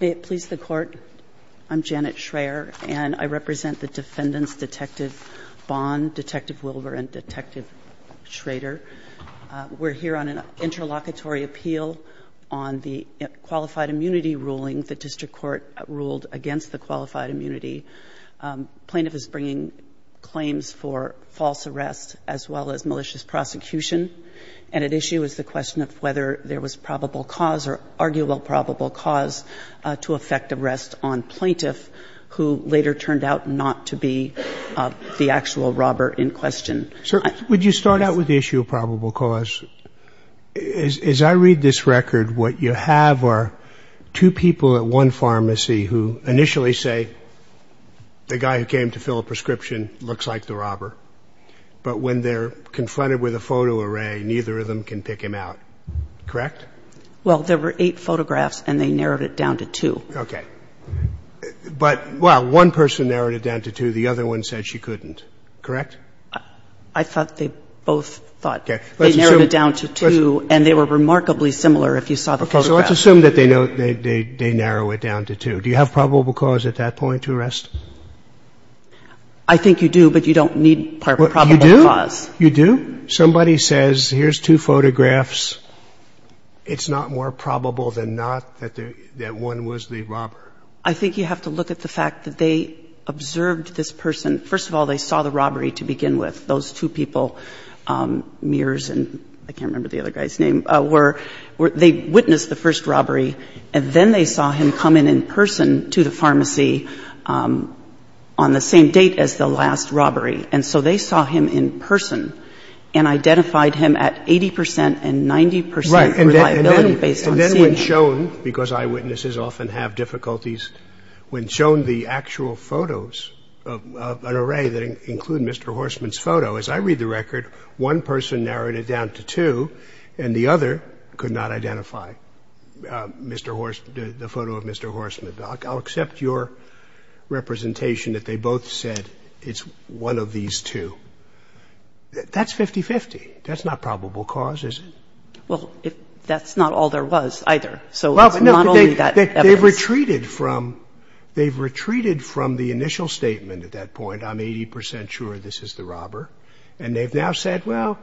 May it please the Court, I'm Janet Schraer and I represent the defendants Detective Bond, Detective Wilbur and Detective Schrader. We're here on an interlocutory appeal on the qualified immunity ruling the district court ruled against the qualified immunity. Plaintiff is bringing claims for false arrests as well as malicious prosecution and at issue is the question of whether there was probable cause or arguable probable cause to effect arrest on plaintiff who later turned out not to be the actual robber in question. Sir would you start out with the issue of probable cause? As I read this record what you have are two people at one pharmacy who initially say the guy who came to fill a prescription looks like the robber but when they're confronted with a photo array neither of them can pick him out, correct? Well there were eight photographs and they narrowed it down to two. Okay, but well one person narrowed it down to two the other one said she couldn't, correct? I thought they both thought they narrowed it down to two and they were remarkably similar if you saw the photograph. Okay, so let's assume that they know they narrow it down to two. Do you have probable cause at that point to arrest? I think you do but you don't need probable cause. You do? Somebody says here's two photographs, it's not more probable than not that one was the robber. I think you have to look at the fact that they observed this person, first of all they saw the robbery to begin with, those two people, Mears and I can't remember the other guy's name, they witnessed the first robbery and then they saw him come in in person to the pharmacy on the same date as the last person and identified him at 80% and 90% reliability based on seeing him. And then when shown, because eyewitnesses often have difficulties, when shown the actual photos of an array that include Mr. Horsman's photo, as I read the record one person narrowed it down to two and the other could not identify Mr. Horsman, the photo of Mr. Horsman. I'll accept your question. That's 50-50. That's not probable cause, is it? Well, that's not all there was either. So it's not only that evidence. They've retreated from the initial statement at that point, I'm 80% sure this is the robber, and they've now said, well,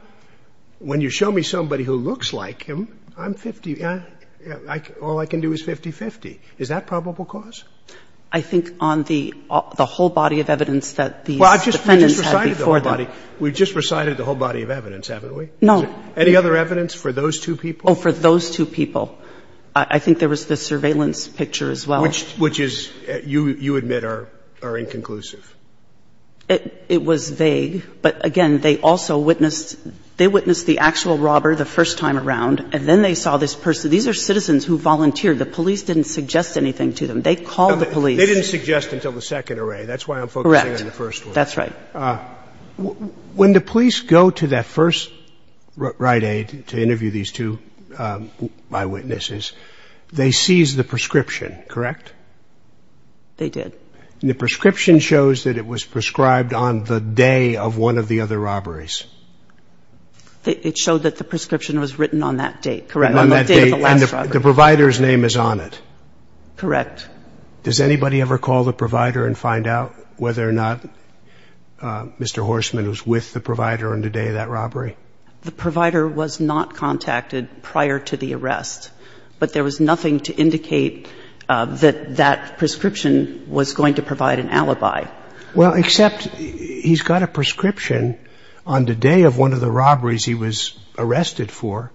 when you show me somebody who looks like him, I'm 50, all I can do is 50-50. Is that probable cause? I think on the whole body of evidence that these defendants had before them. Well, I've just recited the whole body. We've just recited the whole body of evidence, haven't we? No. Any other evidence for those two people? Oh, for those two people. I think there was the surveillance picture as well. Which is, you admit, are inconclusive. It was vague, but again, they also witnessed the actual robber the first time around, and then they saw this person. These are citizens who volunteered. The police didn't suggest anything to them. They called the police. They didn't suggest until the second array. That's why I'm focusing on the first one. Correct. That's right. When the police go to that first Rite Aid to interview these two eyewitnesses, they seized the prescription, correct? They did. And the prescription shows that it was prescribed on the day of one of the other robberies. It showed that the prescription was written on that date, correct, on the day of the last robbery. And the provider's name is on it. Correct. Does anybody ever call the provider and find out whether or not Mr. Horseman was with the provider on the day of that robbery? The provider was not contacted prior to the arrest, but there was nothing to indicate that that prescription was going to provide an alibi. Well, except he's got a prescription on the day of one of the robberies he was arrested for,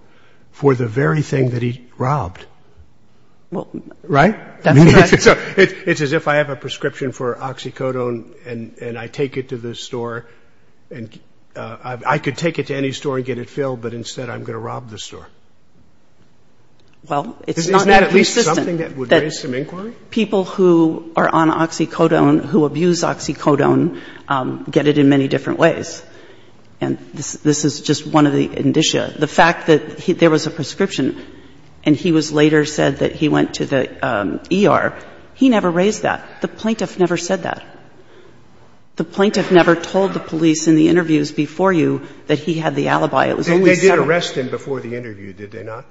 for the very thing that he robbed. Right? It's as if I have a prescription for oxycodone and I take it to the store. I could take it to any store and get it filled, but instead I'm going to rob the store. Well, it's not that persistent. Isn't that at least something that would raise some inquiry? People who are on oxycodone, who abuse oxycodone, get it in many different ways. And this is just one of the indicia. The fact that there was a prescription and he was later said that he went to the ER, he never raised that. The plaintiff never said that. The plaintiff never told the police in the interviews before you that he had the alibi. It was always settled. They did arrest him before the interview, did they not?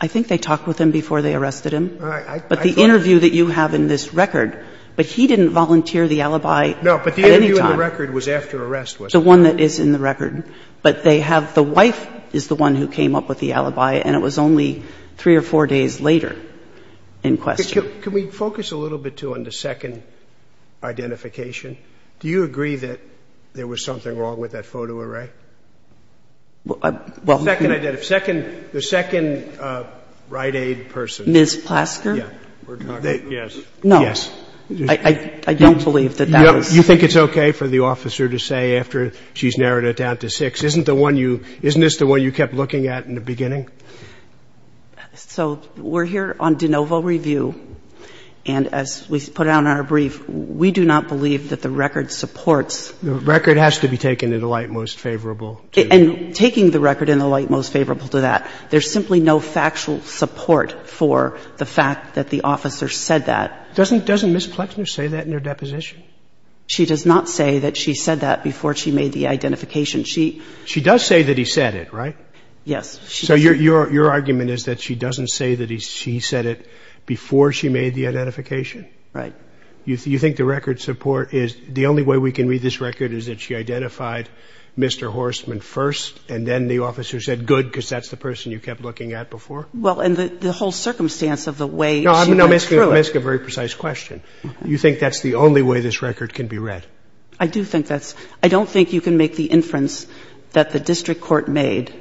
I think they talked with him before they arrested him. All right. But the interview that you have in this record, but he didn't volunteer the alibi at any time. No, but the interview in the record was after arrest, wasn't it? The one that is in the record. But they have the wife is the one who came up with the alibi, and it was only three or four days later in question. Can we focus a little bit, too, on the second identification? Do you agree that there was something wrong with that photo array? Well, I don't. The second identity. The second Rite Aid person. Ms. Plasker? Yes. No. I don't believe that that was. Do you think it's okay for the officer to say after she's narrowed it down to six, isn't the one you — isn't this the one you kept looking at in the beginning? So we're here on de novo review, and as we put out in our brief, we do not believe that the record supports. The record has to be taken in the light most favorable. And taking the record in the light most favorable to that. There's simply no factual support for the fact that the officer said that. Doesn't Ms. Plasker say that in her deposition? She does not say that she said that before she made the identification. She — She does say that he said it, right? Yes. So your argument is that she doesn't say that she said it before she made the identification? Right. You think the record support is — the only way we can read this record is that she identified Mr. Horstman first, and then the officer said, good, because that's the person you kept looking at before? Well, and the whole circumstance of the way she went through it — I'm asking a very precise question. You think that's the only way this record can be read? I do think that's — I don't think you can make the inference that the district court made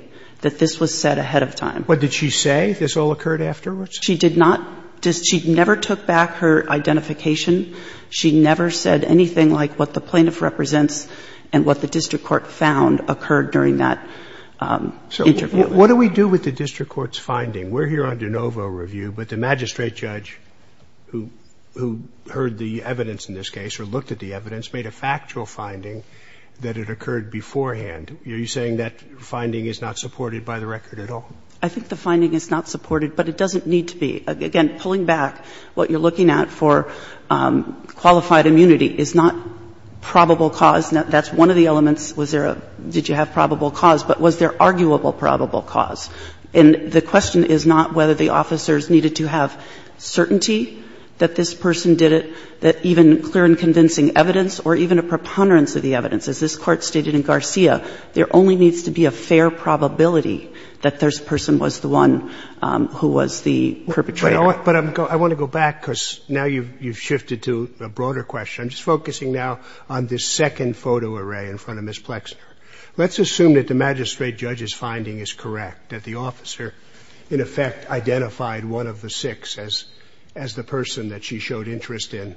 that this was said ahead of time. But did she say this all occurred afterwards? She did not. She never took back her identification. She never said anything like what the plaintiff represents and what the district court found occurred during that interview. So what do we do with the district court's finding? We're here on de novo review, but the magistrate judge who heard the evidence in this case or looked at the evidence made a factual finding that it occurred beforehand. Are you saying that finding is not supported by the record at all? I think the finding is not supported, but it doesn't need to be. Again, pulling back what you're looking at for qualified immunity is not probable cause. That's one of the elements. Was there a — did you have probable cause? But was there arguable probable cause? And the question is not whether the officers needed to have certainty that this person did it, that even clear and convincing evidence or even a preponderance of the evidence. As this Court stated in Garcia, there only needs to be a fair probability that this person was the one who was the perpetrator. But I want to go back because now you've shifted to a broader question. I'm just focusing now on this second photo array in front of Ms. Plexner. Let's assume that the magistrate judge's finding is correct, that the officer in effect identified one of the six as the person that she showed interest in.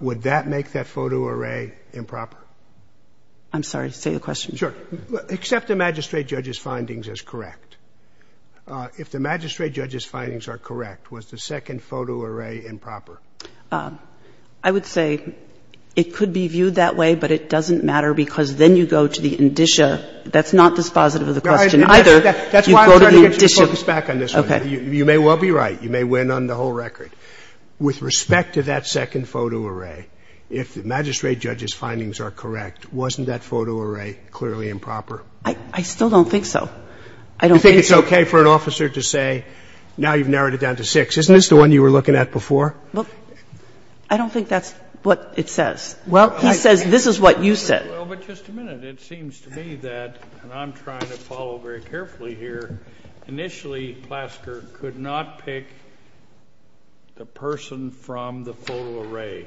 Would that make that photo array improper? I'm sorry. Say the question. Sure. Except the magistrate judge's findings is correct. If the magistrate judge's findings are correct, was the second photo array improper? I would say it could be viewed that way, but it doesn't matter because then you go to the indicia, that's not dispositive of the question either. You go to the indicia. That's why I'm trying to get your focus back on this one. Okay. You may well be right. You may win on the whole record. With respect to that second photo array, if the magistrate judge's findings are correct, wasn't that photo array clearly improper? I still don't think so. I don't think so. You think it's okay for an officer to say, now you've narrowed it down to six. Isn't this the one you were looking at before? Well, I don't think that's what it says. Well, I think this is what you said. Well, but just a minute. It seems to me that, and I'm trying to follow very carefully here, initially Plasker could not pick the person from the photo array.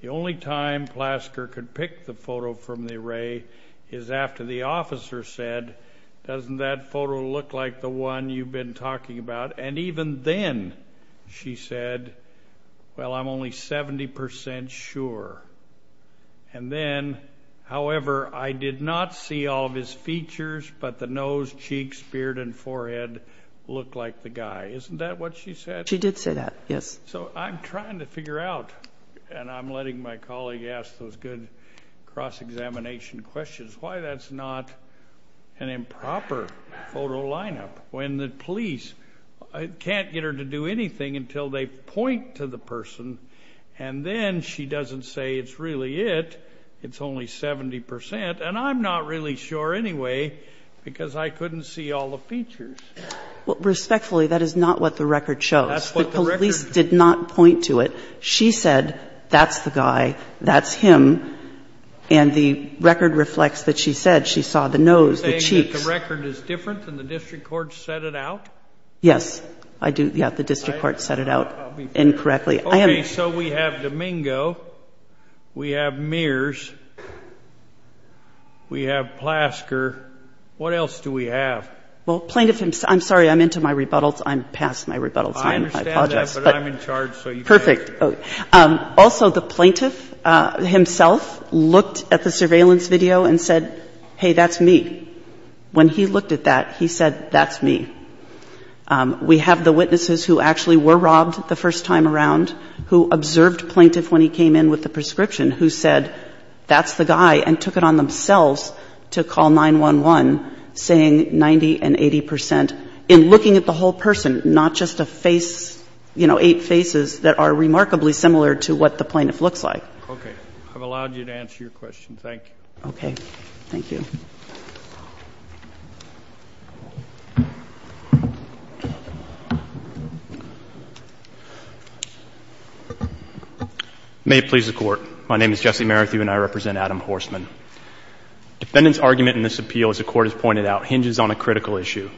The only time Plasker could pick the photo from the array is after the officer said, doesn't that photo look like the one you've been talking about? And even then she said, well, I'm only 70% sure. And then, however, I did not see all of his features, but the nose, cheeks, beard, and forehead looked like the guy. Isn't that what she said? She did say that, yes. So I'm trying to figure out, and I'm letting my colleague ask those good cross-examination questions, why that's not an improper photo lineup when the police can't get her to do anything until they point to the person, and then she doesn't say it's really it, it's only 70%, and I'm not really sure anyway because I couldn't see all the features. Well, respectfully, that is not what the record shows. That's what the record shows. The police did not point to it. She said, that's the guy, that's him, and the record reflects that she said she saw the nose, the cheeks. Are you saying that the record is different than the district court set it out? Yes, I do. Yeah, the district court set it out incorrectly. Okay, so we have Domingo, we have Mears, we have Plasker. What else do we have? Well, plaintiff, I'm sorry, I'm into my rebuttals. I'm past my rebuttals. I understand that, but I'm in charge. Perfect. Also, the plaintiff himself looked at the surveillance video and said, hey, that's me. When he looked at that, he said, that's me. We have the witnesses who actually were robbed the first time around, who observed plaintiff when he came in with the prescription, who said, that's the guy, and took it on themselves to call 911, saying 90 and 80 percent, in looking at the whole person, not just a face, you know, eight faces that are remarkably similar to what the plaintiff looks like. Okay. I've allowed you to answer your question. Thank you. Okay. Thank you. May it please the Court. My name is Jesse Merithew, and I represent Adam Horsman. Defendant's argument in this appeal, as the Court has pointed out, hinges on a critical issue.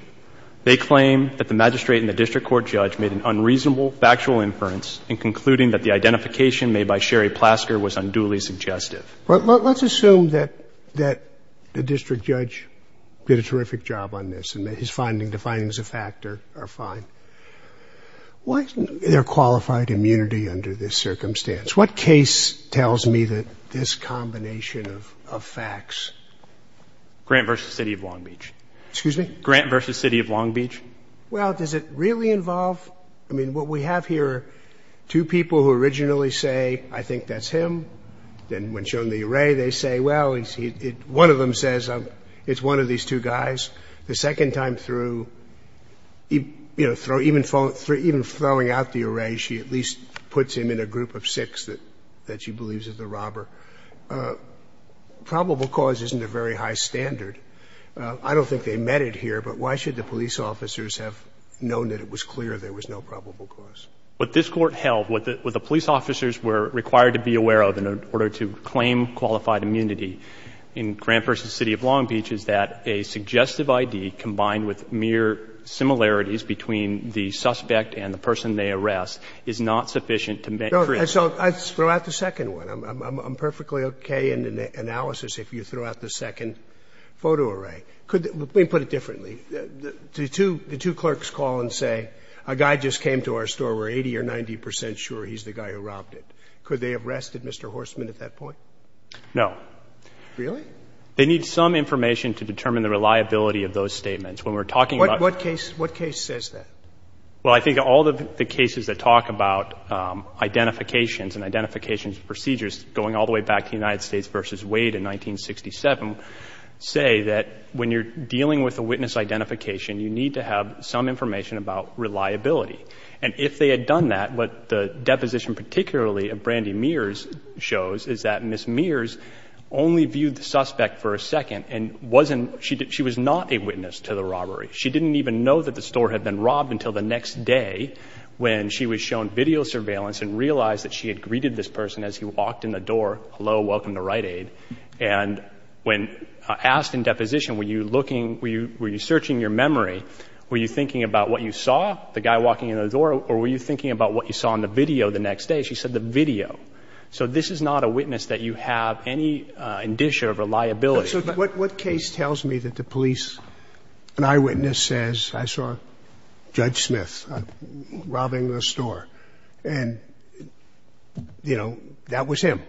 They claim that the magistrate and the district court judge made an unreasonable factual inference in concluding that the identification made by Sherry Plasker was unduly suggestive. Well, let's assume that the district judge did a terrific job on this, and that his findings, the findings of fact, are fine. Why isn't there qualified immunity under this circumstance? What case tells me that this combination of facts? Grant v. City of Long Beach. Excuse me? Grant v. City of Long Beach. Well, does it really involve? I mean, what we have here are two people who originally say, I think that's him, and when shown the array, they say, well, one of them says it's one of these two guys. The second time through, you know, even throwing out the array, she at least puts him in a group of six that she believes is the robber. Probable cause isn't a very high standard. I don't think they met it here, but why should the police officers have known that it was clear there was no probable cause? What this Court held, what the police officers were required to be aware of in order to claim qualified immunity in Grant v. City of Long Beach is that a suggestive I.D. combined with mere similarities between the suspect and the person they arrest is not sufficient to make clear. So I throw out the second one. I'm perfectly okay in the analysis if you throw out the second photo array. Could we put it differently? The two clerks call and say, a guy just came to our store. We're 80 or 90 percent sure he's the guy who robbed it. Could they have rested Mr. Horstman at that point? No. Really? They need some information to determine the reliability of those statements. When we're talking about the case. What case says that? Well, I think all of the cases that talk about identifications and identification procedures going all the way back to the United States v. Wade in 1967 say that when you're dealing with a witness identification, you need to have some information about reliability. And if they had done that, what the deposition particularly of Brandy Mears shows is that Ms. Mears only viewed the suspect for a second and wasn't, she was not a witness to the robbery. She didn't even know that the store had been robbed until the next day when she was shown video surveillance and realized that she had greeted this person as he walked in the door, hello, welcome to Rite Aid. And when asked in deposition, were you looking, were you searching your memory, were you thinking about what you saw, the guy walking in the door, or were you thinking about what you saw in the video the next day? She said the video. So this is not a witness that you have any indicia of reliability. So what case tells me that the police, an eyewitness says, I saw Judge Smith robbing the store. And, you know, that was him.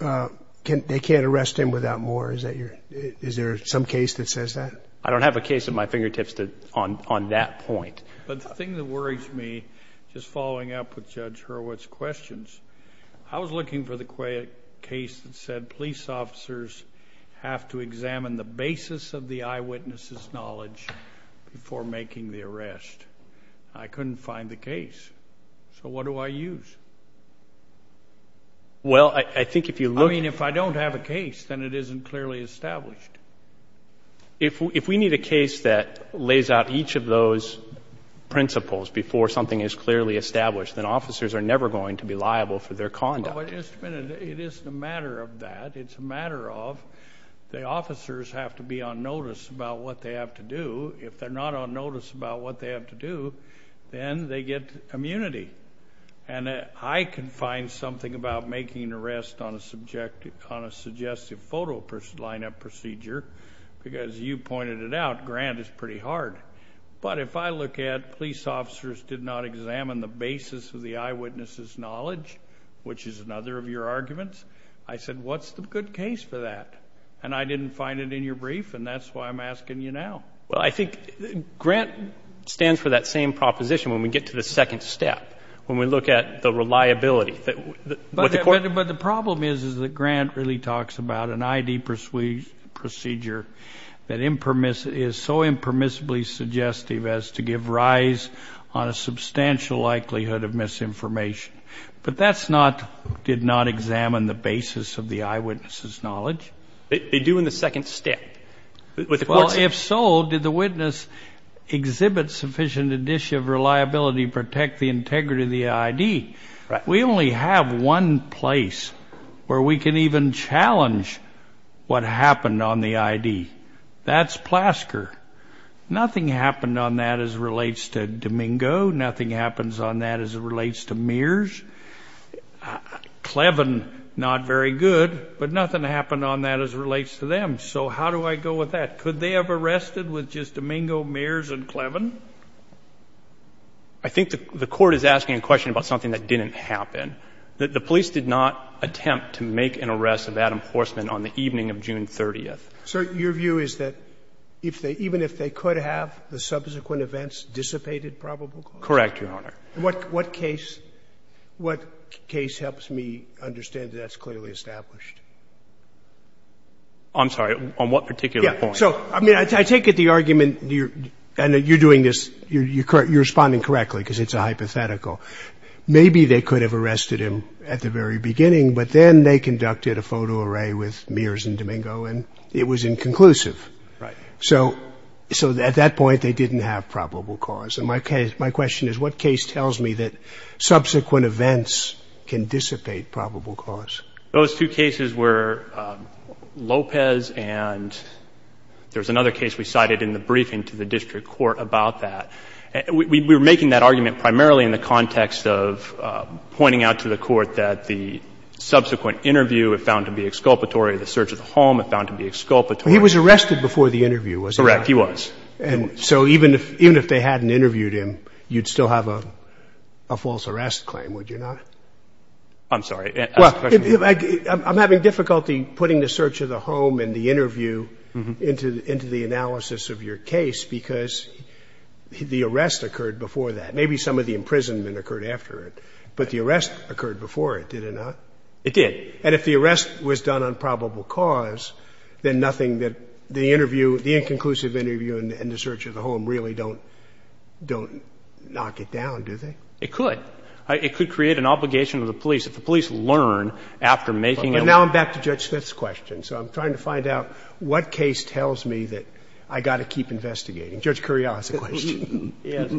They can't arrest him without more. Is there some case that says that? I don't have a case at my fingertips on that point. But the thing that worries me, just following up with Judge Hurwitz's questions, I was looking for the case that said police officers have to examine the basis of the eyewitness's knowledge before making the arrest. I couldn't find the case. So what do I use? Well, I think if you look... I mean, if I don't have a case, then it isn't clearly established. If we need a case that lays out each of those principles before something is clearly established, then officers are never going to be liable for their conduct. But it isn't a matter of that. It's a matter of the officers have to be on notice about what they have to do. If they're not on notice about what they have to do, then they get immunity. And I can find something about making an arrest on a suggestive photo lineup procedure, because you pointed it out, Grant, it's pretty hard. But if I look at police officers did not examine the basis of the eyewitness's knowledge, which is another of your arguments, I said, what's the good case for that? And I didn't find it in your brief, and that's why I'm asking you now. Well, I think Grant stands for that same proposition when we get to the second step, when we look at the reliability. But the problem is, is that Grant really talks about an ID procedure that is so impermissibly suggestive as to give rise on a substantial likelihood of misinformation. But that's not did not examine the basis of the eyewitness's knowledge. They do in the second step. Well, if so, did the witness exhibit sufficient edition of reliability to protect the integrity of the ID? We only have one place where we can even challenge what happened on the ID. That's Plasker. Nothing happened on that as relates to Domingo. Nothing happens on that as it relates to Mears. Clevin, not very good. But nothing happened on that as it relates to them. So how do I go with that? Could they have arrested with just Domingo, Mears, and Clevin? I think the Court is asking a question about something that didn't happen. The police did not attempt to make an arrest of Adam Horsman on the evening of June 30th. Sir, your view is that if they, even if they could have, the subsequent events dissipated probable cause? Correct, Your Honor. What case helps me understand that that's clearly established? I'm sorry, on what particular point? So, I mean, I take it the argument, and you're doing this, you're responding correctly because it's a hypothetical. Maybe they could have arrested him at the very beginning, but then they conducted a photo array with Mears and Domingo, and it was inconclusive. Right. So at that point, they didn't have probable cause. And my question is, what case tells me that subsequent events can dissipate probable cause? Those two cases were Lopez and there was another case we cited in the briefing to the district court about that. We were making that argument primarily in the context of pointing out to the Court that the subsequent interview if found to be exculpatory, the search of the home if found to be exculpatory. He was arrested before the interview, wasn't he? Correct, he was. And so even if they hadn't interviewed him, you'd still have a false arrest claim, would you not? I'm sorry. Well, I'm having difficulty putting the search of the home and the interview into the analysis of your case because the arrest occurred before that. Maybe some of the imprisonment occurred after it, but the arrest occurred before it, did it not? It did. And if the arrest was done on probable cause, then nothing that the interview, the inconclusive interview and the search of the home really don't knock it down, do they? It could. It could create an obligation to the police. If the police learn after making a- And now I'm back to Judge Smith's question. So I'm trying to find out what case tells me that I've got to keep investigating. Judge Curiel has a question. Let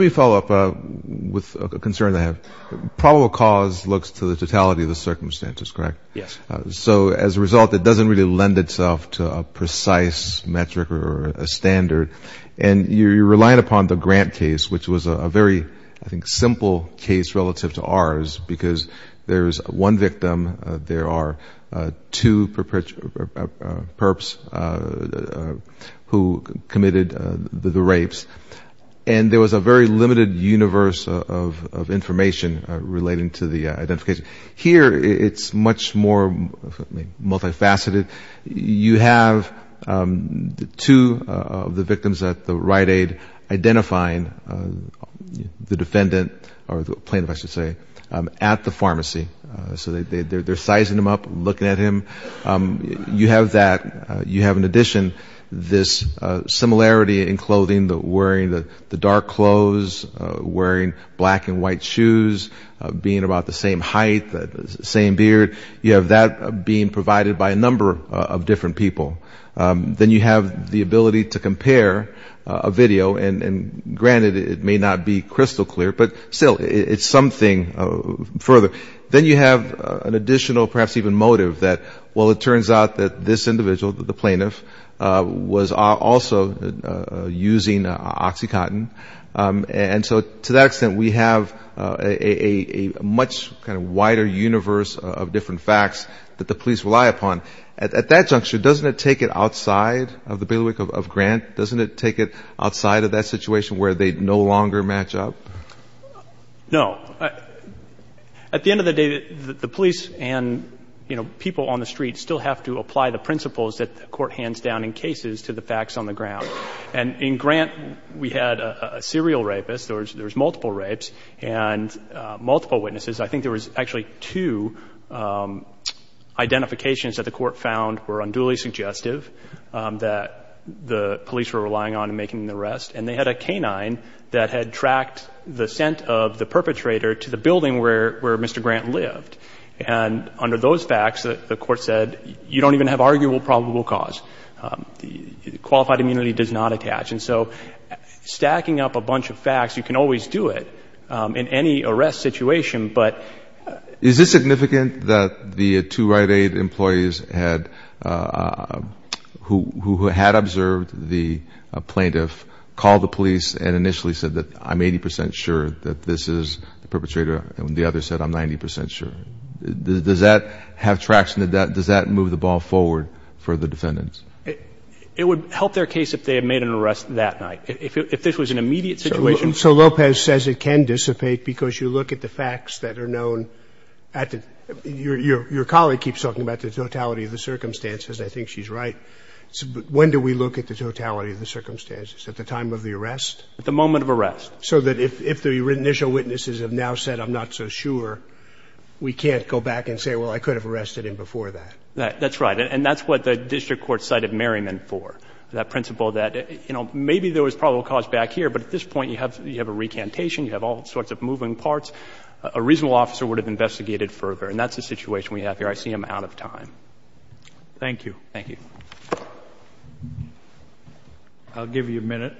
me follow up with a concern that I have. Probable cause looks to the totality of the circumstances, correct? Yes. So as a result, it doesn't really lend itself to a precise metric or a standard. And you're relying upon the Grant case, which was a very, I think, simple case relative to ours because there's one victim, there are two perps who committed the rapes, and there was a very limited universe of information relating to the identification. Here it's much more multifaceted. You have two of the victims at the Rite Aid identifying the defendant or the plaintiff, I should say, at the pharmacy. So they're sizing him up, looking at him. You have that, you have in addition this similarity in clothing, wearing the dark clothes, wearing black and white shoes, being about the same height, the same beard. You have that being provided by a number of different people. Then you have the ability to compare a video, and granted it may not be crystal clear, but still it's something further. Then you have an additional perhaps even motive that, well, it turns out that this individual, the plaintiff, was also using OxyContin. And so to that extent, we have a much kind of wider universe of different facts that the police rely upon. At that juncture, doesn't it take it outside of the bailiwick of Grant? Doesn't it take it outside of that situation where they no longer match up? No. At the end of the day, the police and people on the street still have to apply the principles that the court hands down in cases to the facts on the ground. And in Grant, we had a serial rapist. There was multiple rapes and multiple witnesses. I think there was actually two identifications that the court found were unduly suggestive that the police were relying on in making the arrest. And they had a canine that had tracked the scent of the perpetrator to the building where Mr. Grant lived. And under those facts, the court said, you don't even have arguable probable cause. Qualified immunity does not attach. And so stacking up a bunch of facts, you can always do it in any arrest situation. But is this significant that the two Rite Aid employees had, who had observed the plaintiff, called the police and initially said that I'm 80 percent sure that this is the perpetrator and the other said I'm 90 percent sure? Does that have traction? Does that move the ball forward for the defendants? It would help their case if they had made an arrest that night. If this was an immediate situation. So Lopez says it can dissipate because you look at the facts that are known. Your colleague keeps talking about the totality of the circumstances. I think she's right. When do we look at the totality of the circumstances? At the time of the arrest? At the moment of arrest. So that if the initial witnesses have now said I'm not so sure, we can't go back and say, well, I could have arrested him before that. That's right. And that's what the district court cited Merriman for, that principle that, you know, maybe there was probable cause back here, but at this point you have a recantation, you have all sorts of moving parts. A reasonable officer would have investigated further. And that's the situation we have here. I see him out of time. Thank you. Thank you. I'll give you a minute.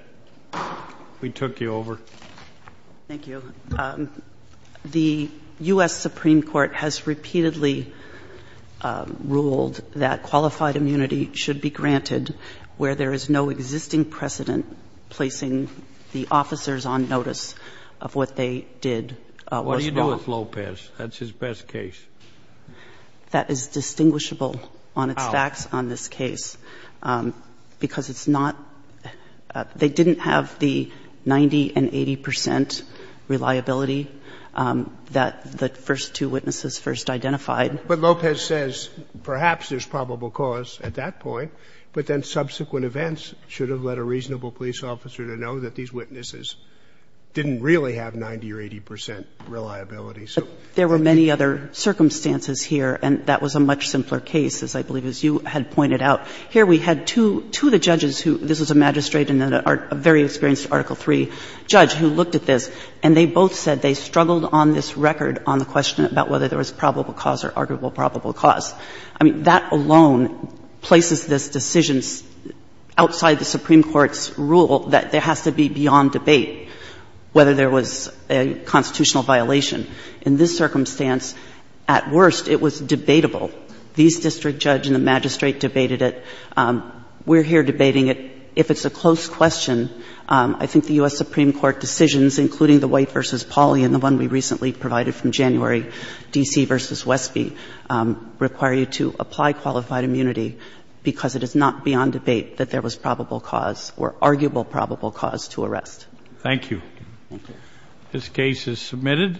We took you over. Thank you. The U.S. Supreme Court has repeatedly ruled that qualified immunity should be granted where there is no existing precedent placing the officers on notice of what they did. What do you do with Lopez? That's his best case. That is distinguishable on its facts on this case. Because it's not they didn't have the 90 and 80 percent reliability that the first two witnesses first identified. But Lopez says perhaps there's probable cause at that point. But then subsequent events should have led a reasonable police officer to know that these witnesses didn't really have 90 or 80 percent reliability. There were many other circumstances here. And that was a much simpler case, as I believe as you had pointed out. Here we had two of the judges who, this was a magistrate and a very experienced Article III judge who looked at this. And they both said they struggled on this record on the question about whether there was probable cause or arguable probable cause. I mean, that alone places this decision outside the Supreme Court's rule that there has to be beyond debate whether there was a constitutional violation. In this circumstance, at worst, it was debatable. These district judge and the magistrate debated it. We're here debating it. If it's a close question, I think the U.S. Supreme Court decisions, including the White v. Pauli and the one we recently provided from January, D.C. v. Westby, require you to apply qualified immunity because it is not beyond debate that there was probable cause or arguable probable cause to arrest. Thank you. Thank you. This case is submitted.